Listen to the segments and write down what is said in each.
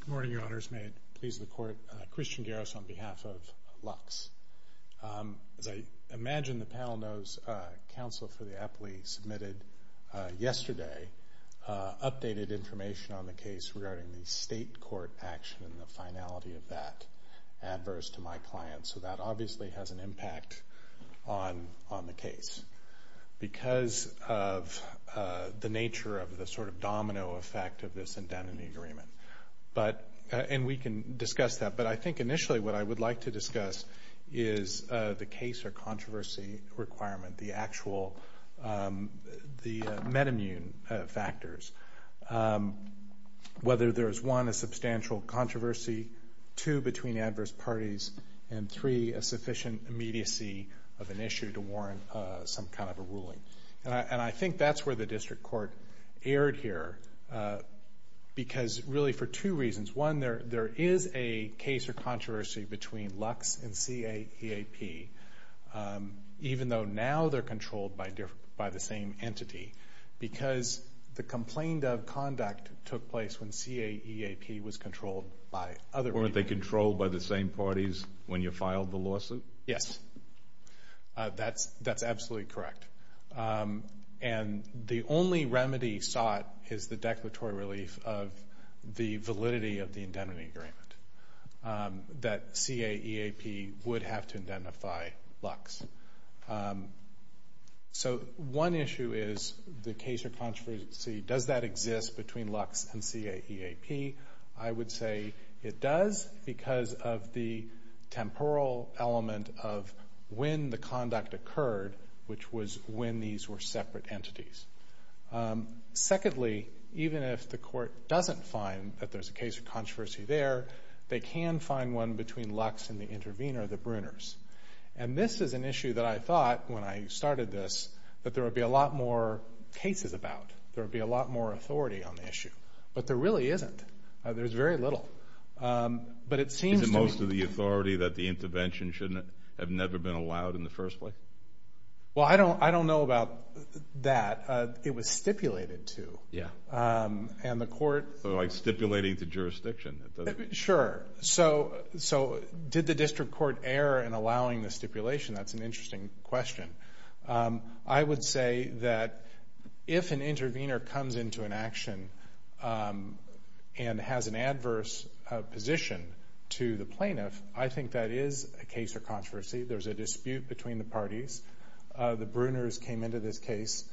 Good morning, Your Honors. May it please the Court, Christian Garris on behalf of Lux. As I imagine the panel knows, counsel for the Apley submitted yesterday updated information on the case regarding the state court action and the finality of that. So that obviously has an impact on the case because of the nature of the sort of domino effect of this indemnity agreement. And we can discuss that, but I think initially what I would like to discuss is the case or controversy requirement, the actual metamune factors. Whether there is one, a substantial controversy, two, between adverse parties, and three, a sufficient immediacy of an issue to warrant some kind of a ruling. And I think that's where the district court erred here because really for two reasons. One, there is a case or controversy between Lux and CAEAP even though now they're controlled by the same entity because the complaint of conduct took place when CAEAP was controlled by other parties. Weren't they controlled by the same parties when you filed the lawsuit? Yes, that's absolutely correct. And the only remedy sought is the declaratory relief of the validity of the indemnity agreement that CAEAP would have to indemnify Lux. So one issue is the case or controversy. Does that exist between Lux and CAEAP? I would say it does because of the temporal element of when the conduct occurred, which was when these were separate entities. Secondly, even if the court doesn't find that there's a case or controversy there, they can find one between Lux and the intervener, the Bruners. And this is an issue that I thought when I started this that there would be a lot more cases about. There would be a lot more authority on the issue. But there really isn't. There's very little. Is it most of the authority that the intervention should have never been allowed in the first place? Well, I don't know about that. It was stipulated to. Like stipulating to jurisdiction? Sure. So did the district court err in allowing the stipulation? That's an interesting question. I would say that if an intervener comes into an action and has an adverse position to the plaintiff, I think that is a case or controversy. The Bruners came into this case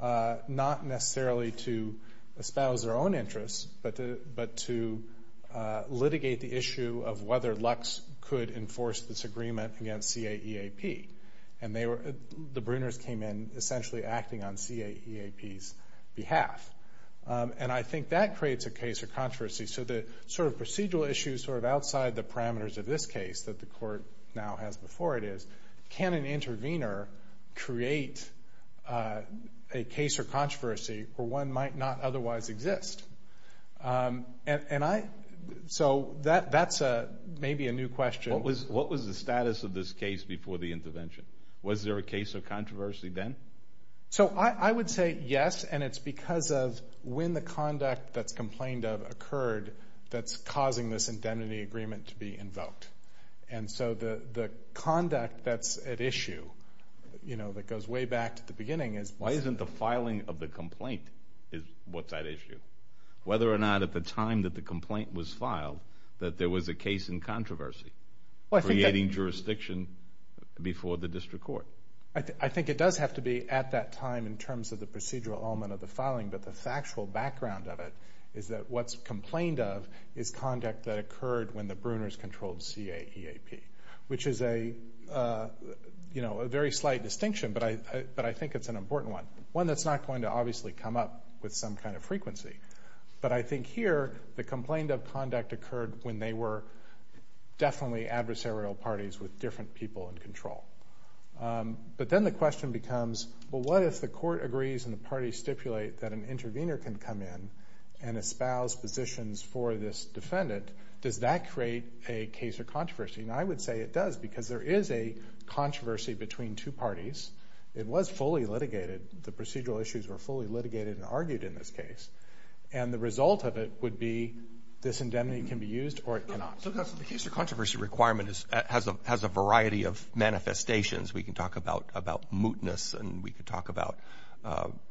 not necessarily to espouse their own interests, but to litigate the issue of whether Lux could enforce this agreement against CAEAP. And the Bruners came in essentially acting on CAEAP's behalf. And I think that creates a case or controversy. So the sort of procedural issues sort of outside the parameters of this case that the court now has before it is, can an intervener create a case or controversy where one might not otherwise exist? So that's maybe a new question. What was the status of this case before the intervention? Was there a case or controversy then? So I would say yes, and it's because of when the conduct that's complained of occurred that's causing this indemnity agreement to be invoked. And so the conduct that's at issue, you know, that goes way back to the beginning is why isn't the filing of the complaint what's at issue? Whether or not at the time that the complaint was filed that there was a case in controversy creating jurisdiction before the district court. So I think it does have to be at that time in terms of the procedural element of the filing, but the factual background of it is that what's complained of is conduct that occurred when the Bruners controlled CAEAP, which is a very slight distinction, but I think it's an important one, one that's not going to obviously come up with some kind of frequency. But I think here the complaint of conduct occurred when they were definitely adversarial parties with different people in control. But then the question becomes, well, what if the court agrees and the parties stipulate that an intervener can come in and espouse positions for this defendant? Does that create a case or controversy? And I would say it does because there is a controversy between two parties. It was fully litigated. The procedural issues were fully litigated and argued in this case, and the result of it would be this indemnity can be used or it cannot. So, counsel, the case or controversy requirement has a variety of manifestations. We can talk about mootness and we can talk about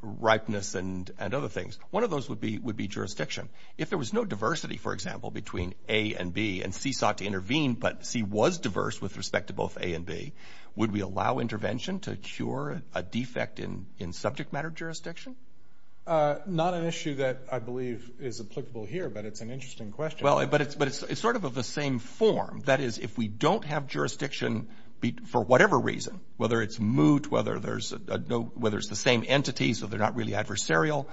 ripeness and other things. One of those would be jurisdiction. If there was no diversity, for example, between A and B, and C sought to intervene, but C was diverse with respect to both A and B, would we allow intervention to cure a defect in subject matter jurisdiction? Not an issue that I believe is applicable here, but it's an interesting question. But it's sort of of the same form. That is, if we don't have jurisdiction for whatever reason, whether it's moot, whether it's the same entity so they're not really adversarial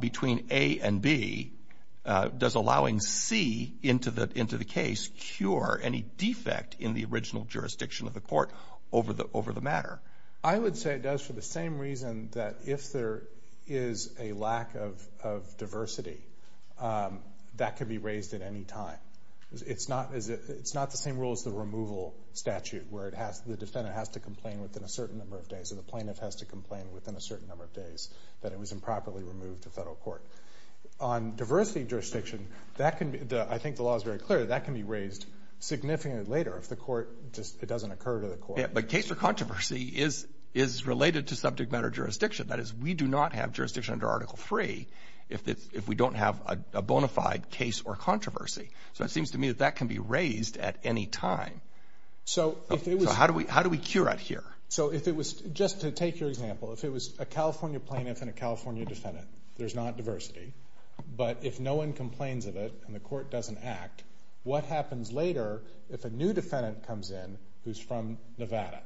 between A and B, does allowing C into the case cure any defect in the original jurisdiction of the court over the matter? I would say it does for the same reason that if there is a lack of diversity, that could be raised at any time. It's not the same rule as the removal statute where the defendant has to complain within a certain number of days or the plaintiff has to complain within a certain number of days that it was improperly removed to federal court. On diversity jurisdiction, I think the law is very clear. That can be raised significantly later if it doesn't occur to the court. But case or controversy is related to subject matter jurisdiction. That is, we do not have jurisdiction under Article III if we don't have a bona fide case or controversy. So it seems to me that that can be raised at any time. So how do we cure it here? So if it was, just to take your example, if it was a California plaintiff and a California defendant, there's not diversity, but if no one complains of it and the court doesn't act, what happens later if a new defendant comes in who's from Nevada?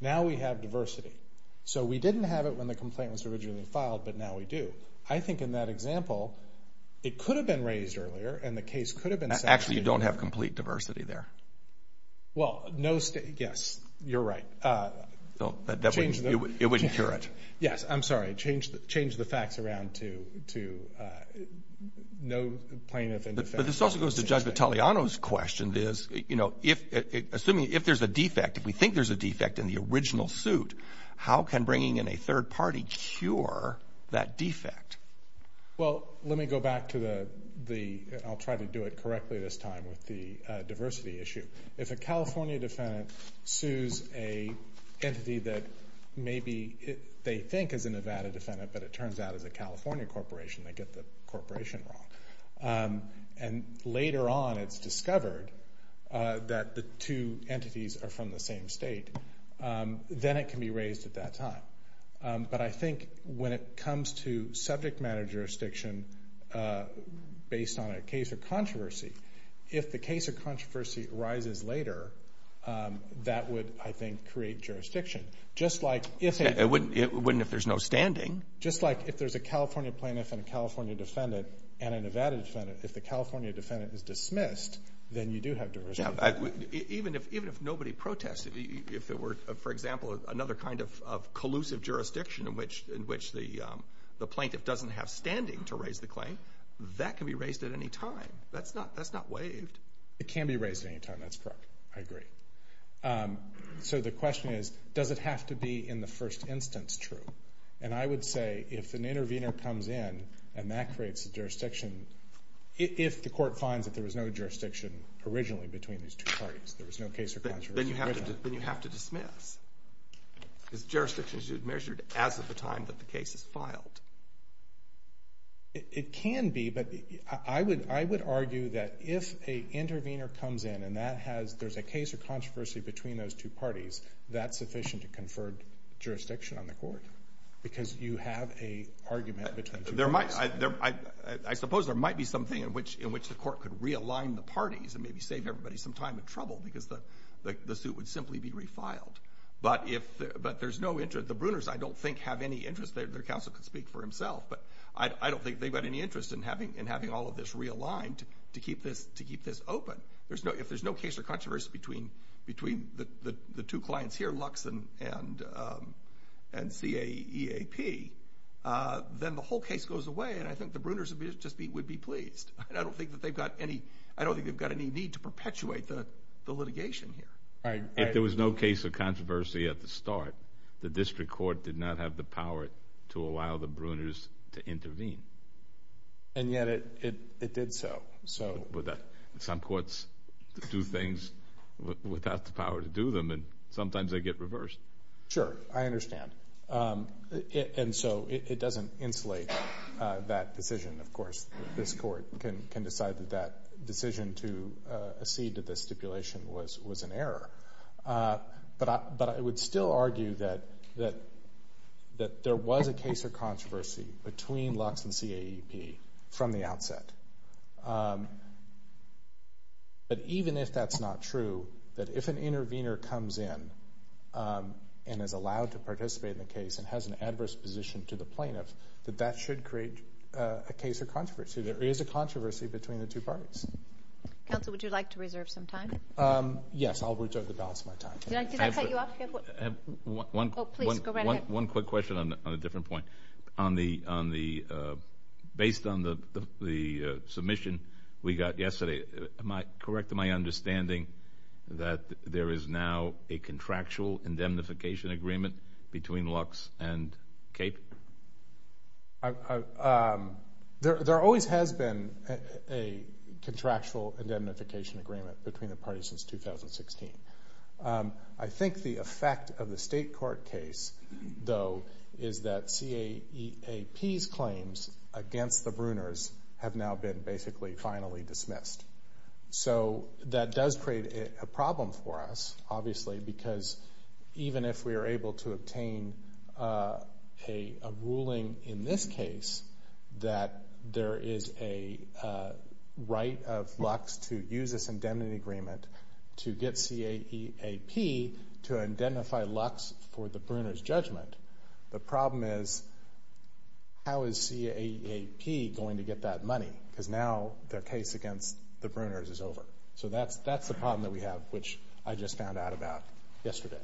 Now we have diversity. So we didn't have it when the complaint was originally filed, but now we do. I think in that example, it could have been raised earlier and the case could have been sent to you. Actually, you don't have complete diversity there. Well, yes, you're right. It wouldn't cure it. Yes, I'm sorry. Change the facts around to no plaintiff and defendant. But this also goes to Judge Vitaleano's question is, you know, assuming if there's a defect, if we think there's a defect in the original suit, how can bringing in a third party cure that defect? Well, let me go back to the – I'll try to do it correctly this time with the diversity issue. If a California defendant sues an entity that maybe they think is a Nevada defendant, but it turns out is a California corporation, they get the corporation wrong. And later on it's discovered that the two entities are from the same state, then it can be raised at that time. But I think when it comes to subject matter jurisdiction based on a case of controversy, if the case of controversy arises later, that would, I think, create jurisdiction. It wouldn't if there's no standing. Just like if there's a California plaintiff and a California defendant and a Nevada defendant, if the California defendant is dismissed, then you do have diversity. Even if nobody protested, if there were, for example, another kind of collusive jurisdiction in which the plaintiff doesn't have standing to raise the claim, that can be raised at any time. That's not waived. It can be raised at any time. That's correct. I agree. So the question is, does it have to be in the first instance true? And I would say if an intervener comes in and that creates a jurisdiction, if the court finds that there was no jurisdiction originally between these two parties, there was no case of controversy originally. Then you have to dismiss. Is jurisdiction measured as of the time that the case is filed? It can be, but I would argue that if an intervener comes in and there's a case of controversy between those two parties, that's sufficient to confer jurisdiction on the court because you have an argument between two parties. I suppose there might be something in which the court could realign the parties and maybe save everybody some time and trouble because the suit would simply be refiled. But the Bruners, I don't think, have any interest. Their counsel could speak for himself, but I don't think they've got any interest in having all of this realigned to keep this open. If there's no case of controversy between the two clients here, Lux and CAEAP, then the whole case goes away, and I think the Bruners would be pleased. I don't think they've got any need to perpetuate the litigation here. If there was no case of controversy at the start, the district court did not have the power to allow the Bruners to intervene. And yet it did so. Some courts do things without the power to do them, and sometimes they get reversed. Sure, I understand. And so it doesn't insulate that decision, of course. This court can decide that that decision to accede to this stipulation was an error. But I would still argue that there was a case of controversy between Lux and CAEAP from the outset. But even if that's not true, that if an intervener comes in and is allowed to participate in the case and has an adverse position to the plaintiff, that that should create a case of controversy. There is a controversy between the two parties. Counsel, would you like to reserve some time? Yes, I'll reserve the balance of my time. Did that cut you off? One quick question on a different point. Based on the submission we got yesterday, am I correct in my understanding that there is now a contractual indemnification agreement between Lux and CAEAP? There always has been a contractual indemnification agreement between the parties since 2016. I think the effect of the state court case, though, is that CAEAP's claims against the Bruners have now been basically finally dismissed. So that does create a problem for us, obviously, because even if we are able to obtain a ruling in this case that there is a right of Lux to use this indemnity agreement to get CAEAP to indemnify Lux for the Bruners' judgment, the problem is how is CAEAP going to get that money? Because now their case against the Bruners is over. So that's the problem that we have, which I just found out about yesterday.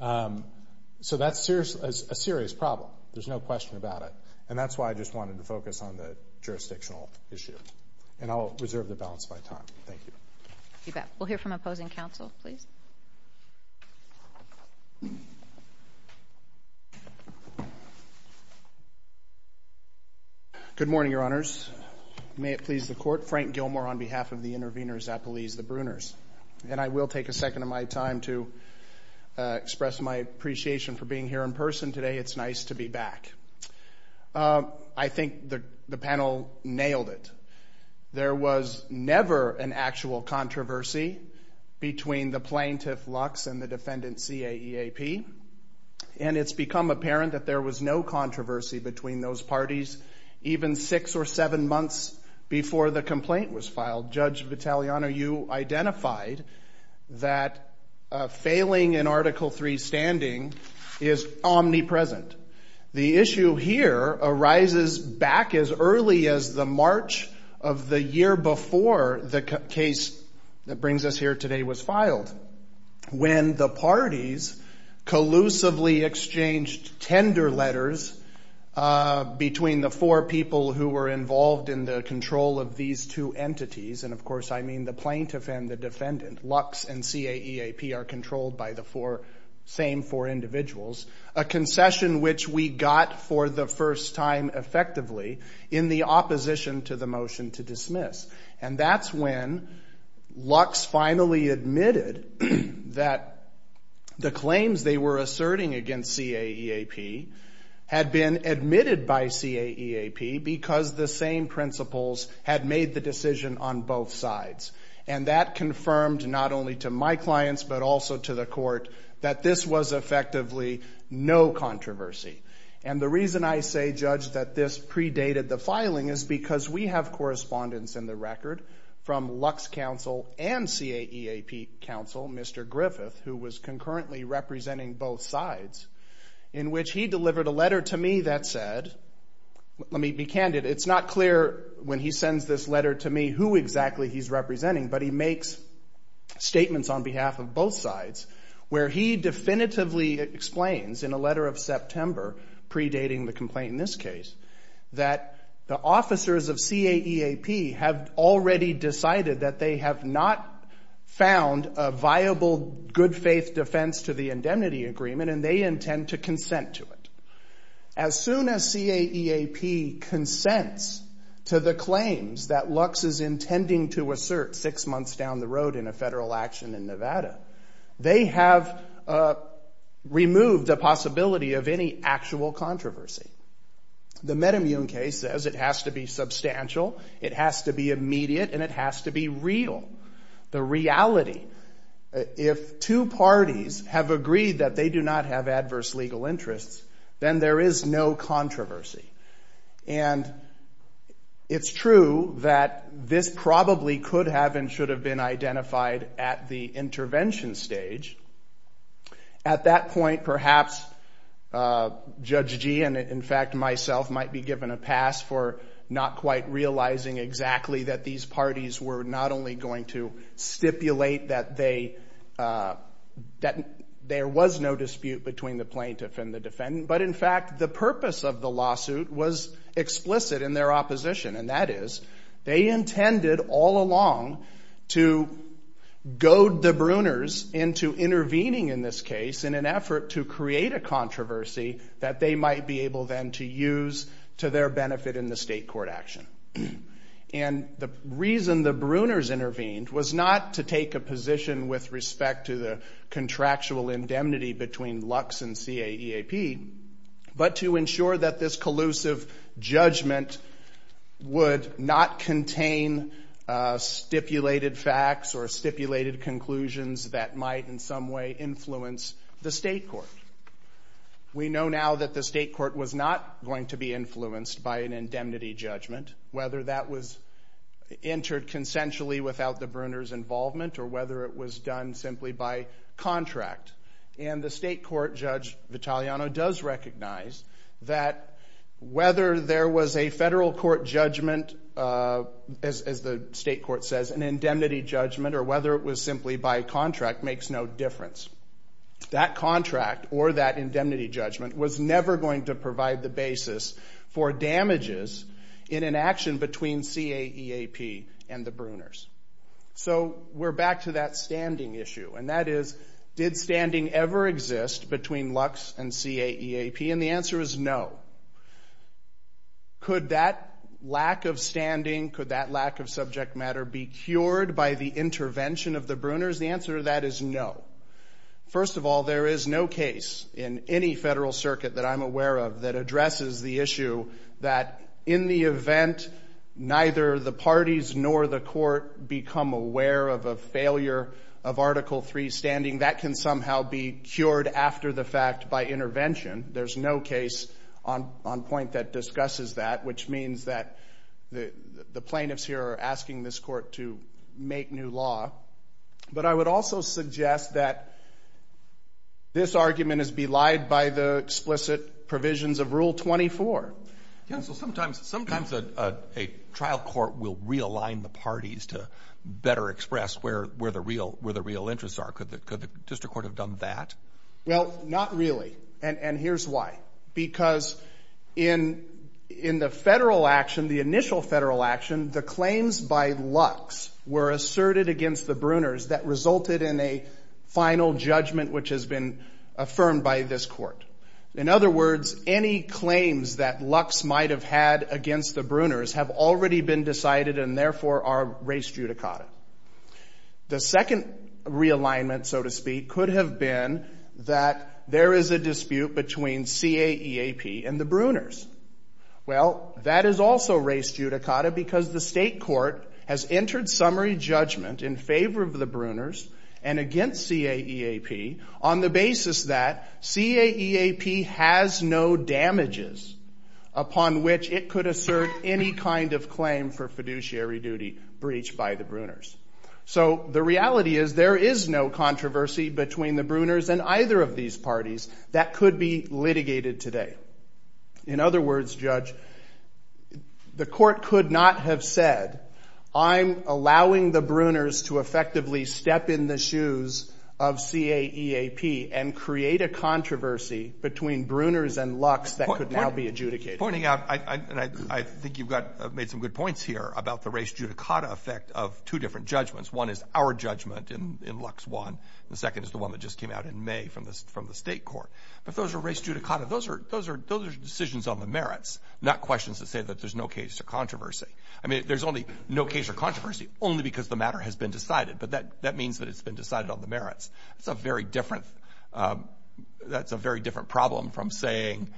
So that's a serious problem. There's no question about it. And that's why I just wanted to focus on the jurisdictional issue. And I'll reserve the balance of my time. Thank you. We'll hear from opposing counsel, please. Good morning, Your Honors. May it please the Court. Frank Gilmore on behalf of the interveners at the Lease of the Bruners. And I will take a second of my time to express my appreciation for being here in person today. It's nice to be back. I think the panel nailed it. There was never an actual controversy between the plaintiff, Lux, and the defendant, CAEAP. And it's become apparent that there was no controversy between those parties even six or seven months before the complaint was filed. Judge Vitaliano, you identified that failing in Article III standing is omnipresent. The issue here arises back as early as the March of the year before the case that brings us here today was filed when the parties collusively exchanged tender letters between the four people who were involved in the control of these two entities. And, of course, I mean the plaintiff and the defendant. Lux and CAEAP are controlled by the same four individuals, a concession which we got for the first time effectively in the opposition to the motion to dismiss. And that's when Lux finally admitted that the claims they were asserting against CAEAP had been admitted by CAEAP because the same principles had made the decision on both sides. And that confirmed not only to my clients but also to the court that this was effectively no controversy. And the reason I say, Judge, that this predated the filing is because we have correspondence in the record from Lux counsel and CAEAP counsel, Mr. Griffith, who was concurrently representing both sides, in which he delivered a letter to me that said, let me be candid, it's not clear when he sends this letter to me who exactly he's representing, but he makes statements on behalf of both sides where he definitively explains in a letter of September predating the complaint in this case that the officers of CAEAP have already decided that they have not found a viable good faith defense to the indemnity agreement and they intend to consent to it. As soon as CAEAP consents to the claims that Lux is intending to assert six months down the road in a federal action in Nevada, they have removed the possibility of any actual controversy. The metamune case says it has to be substantial, it has to be immediate, and it has to be real. The reality, if two parties have agreed that they do not have adverse legal interests, then there is no controversy. And it's true that this probably could have and should have been identified at the intervention stage. At that point, perhaps Judge Gee and in fact myself might be given a pass for not quite realizing exactly that these parties were not only going to stipulate that there was no dispute between the plaintiff and the defendant, but in fact the purpose of the lawsuit was explicit in their opposition, and that is they intended all along to goad the Bruners into intervening in this case in an effort to create a controversy that they might be able then to use to their benefit in the state court action. And the reason the Bruners intervened was not to take a position with respect to the contractual indemnity between Lux and CAEAP, but to ensure that this collusive judgment would not contain stipulated facts or stipulated conclusions that might in some way influence the state court. We know now that the state court was not going to be influenced by an indemnity judgment, whether that was entered consensually without the Bruners' involvement or whether it was done simply by contract. And the state court, Judge Vitaliano does recognize that whether there was a federal court judgment, as the state court says, an indemnity judgment or whether it was simply by contract makes no difference. That contract or that indemnity judgment was never going to provide the basis for damages in an action between CAEAP and the Bruners. So we're back to that standing issue, and that is did standing ever exist between Lux and CAEAP? And the answer is no. Could that lack of standing, could that lack of subject matter be cured by the intervention of the Bruners? The answer to that is no. First of all, there is no case in any federal circuit that I'm aware of that addresses the issue that in the event neither the parties nor the court become aware of a failure of Article III standing, that can somehow be cured after the fact by intervention. There's no case on point that discusses that, which means that the plaintiffs here are asking this court to make new law. But I would also suggest that this argument is belied by the explicit provisions of Rule 24. Counsel, sometimes a trial court will realign the parties to better express where the real interests are. Could the district court have done that? Well, not really. And here's why. Because in the federal action, the initial federal action, the claims by Lux were asserted against the Bruners that resulted in a final judgment which has been affirmed by this court. In other words, any claims that Lux might have had against the Bruners have already been decided and therefore are race judicata. The second realignment, so to speak, could have been that there is a dispute between CAEAP and the Bruners. Well, that is also race judicata because the state court has entered summary judgment in favor of the Bruners and against CAEAP on the basis that CAEAP has no damages upon which it could assert any kind of claim for fiduciary duty breached by the Bruners. So the reality is there is no controversy between the Bruners and either of these parties that could be litigated today. In other words, Judge, the court could not have said, I'm allowing the Bruners to effectively step in the shoes of CAEAP and create a controversy between Bruners and Lux that could now be adjudicated. Pointing out, and I think you've made some good points here about the race judicata effect of two different judgments. One is our judgment in Lux 1. The second is the one that just came out in May from the state court. But those are race judicata. Those are decisions on the merits, not questions that say that there's no case or controversy. I mean, there's only no case or controversy only because the matter has been decided, but that means that it's been decided on the merits. That's a very different problem from saying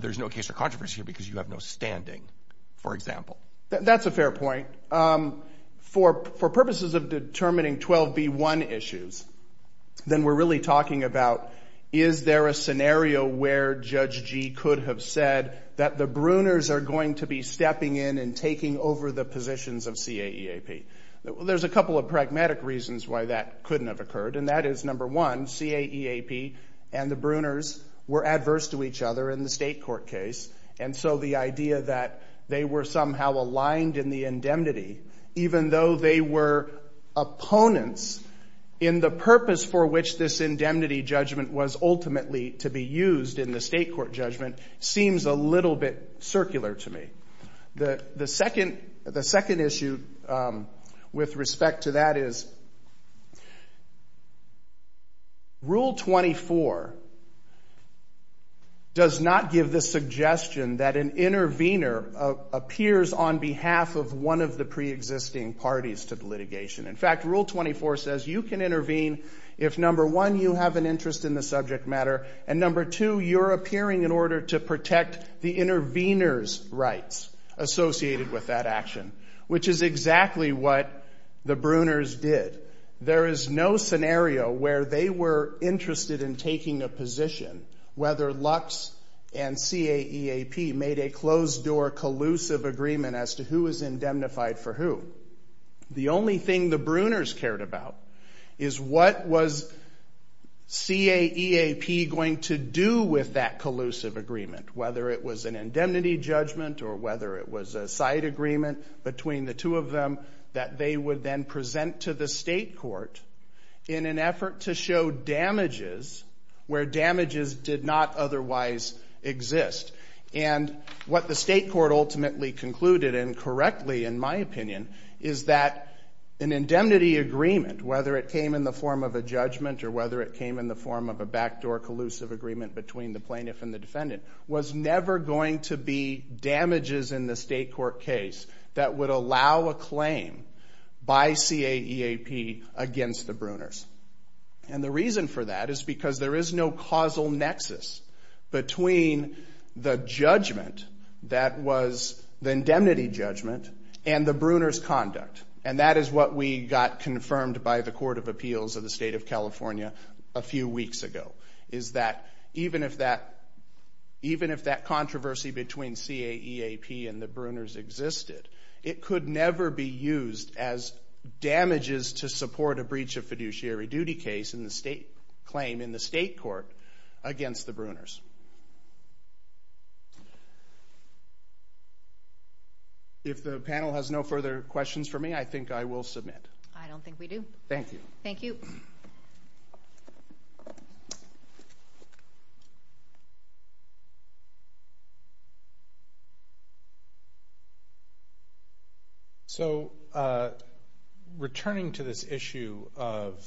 there's no case or controversy because you have no standing, for example. That's a fair point. For purposes of determining 12B1 issues, then we're really talking about, is there a scenario where Judge G could have said that the Bruners are going to be stepping in and taking over the positions of CAEAP? There's a couple of pragmatic reasons why that couldn't have occurred, and that is, number one, CAEAP and the Bruners were adverse to each other in the state court case, and so the idea that they were somehow aligned in the indemnity, even though they were opponents in the purpose for which this indemnity judgment was ultimately to be used in the state court judgment seems a little bit circular to me. The second issue with respect to that is Rule 24 does not give the suggestion that an intervener appears on behalf of one of the preexisting parties to the litigation. In fact, Rule 24 says you can intervene if, number one, you have an interest in the subject matter, and number two, you're appearing in order to protect the intervener's rights associated with that action, which is exactly what the Bruners did. There is no scenario where they were interested in taking a position, whether Lux and CAEAP made a closed-door collusive agreement as to who was indemnified for who. The only thing the Bruners cared about is what was CAEAP going to do with that collusive agreement, whether it was an indemnity judgment or whether it was a side agreement between the two of them that they would then present to the state court in an effort to show damages where damages did not otherwise exist. And what the state court ultimately concluded, and correctly in my opinion, is that an indemnity agreement, whether it came in the form of a judgment or whether it came in the form of a backdoor collusive agreement between the plaintiff and the defendant, was never going to be damages in the state court case that would allow a claim by CAEAP against the Bruners. And the reason for that is because there is no causal nexus between the judgment that was the indemnity judgment and the Bruners' conduct. And that is what we got confirmed by the Court of Appeals of the State of California a few weeks ago, is that even if that controversy between CAEAP and the Bruners existed, it could never be used as damages to support a breach of fiduciary duty case in the state claim in the state court against the Bruners. If the panel has no further questions for me, I think I will submit. I don't think we do. Thank you. Thank you. So, returning to this issue of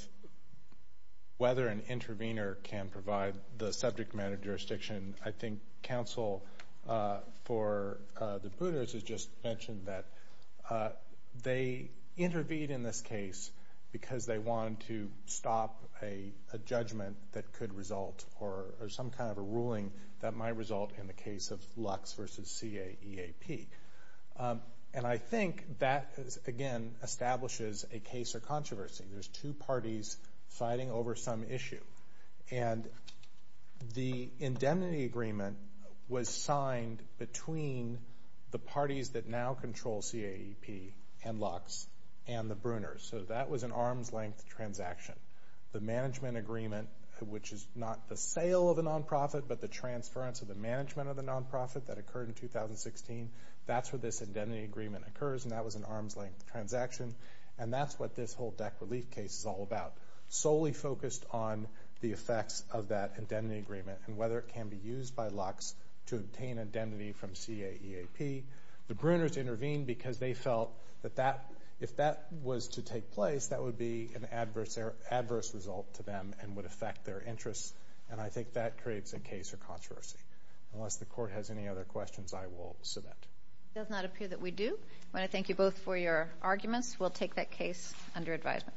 whether an intervener can provide the subject matter jurisdiction, I think counsel for the Bruners has just mentioned that they intervene in this case because they want to stop a judgment that could result or some kind of a ruling that might result in the case of Lux versus CAEAP. And I think that, again, establishes a case of controversy. There's two parties fighting over some issue. And the indemnity agreement was signed between the parties that now control CAEAP and Lux and the Bruners. So that was an arm's-length transaction. The management agreement, which is not the sale of the nonprofit, but the transference of the management of the nonprofit that occurred in 2016, that's where this indemnity agreement occurs, and that was an arm's-length transaction. And that's what this whole DEC relief case is all about, solely focused on the effects of that indemnity agreement and whether it can be used by Lux to obtain indemnity from CAEAP. The Bruners intervened because they felt that if that was to take place, that would be an adverse result to them and would affect their interests. And I think that creates a case of controversy. Unless the Court has any other questions, I will submit. It does not appear that we do. I want to thank you both for your arguments. We'll take that case under advisement.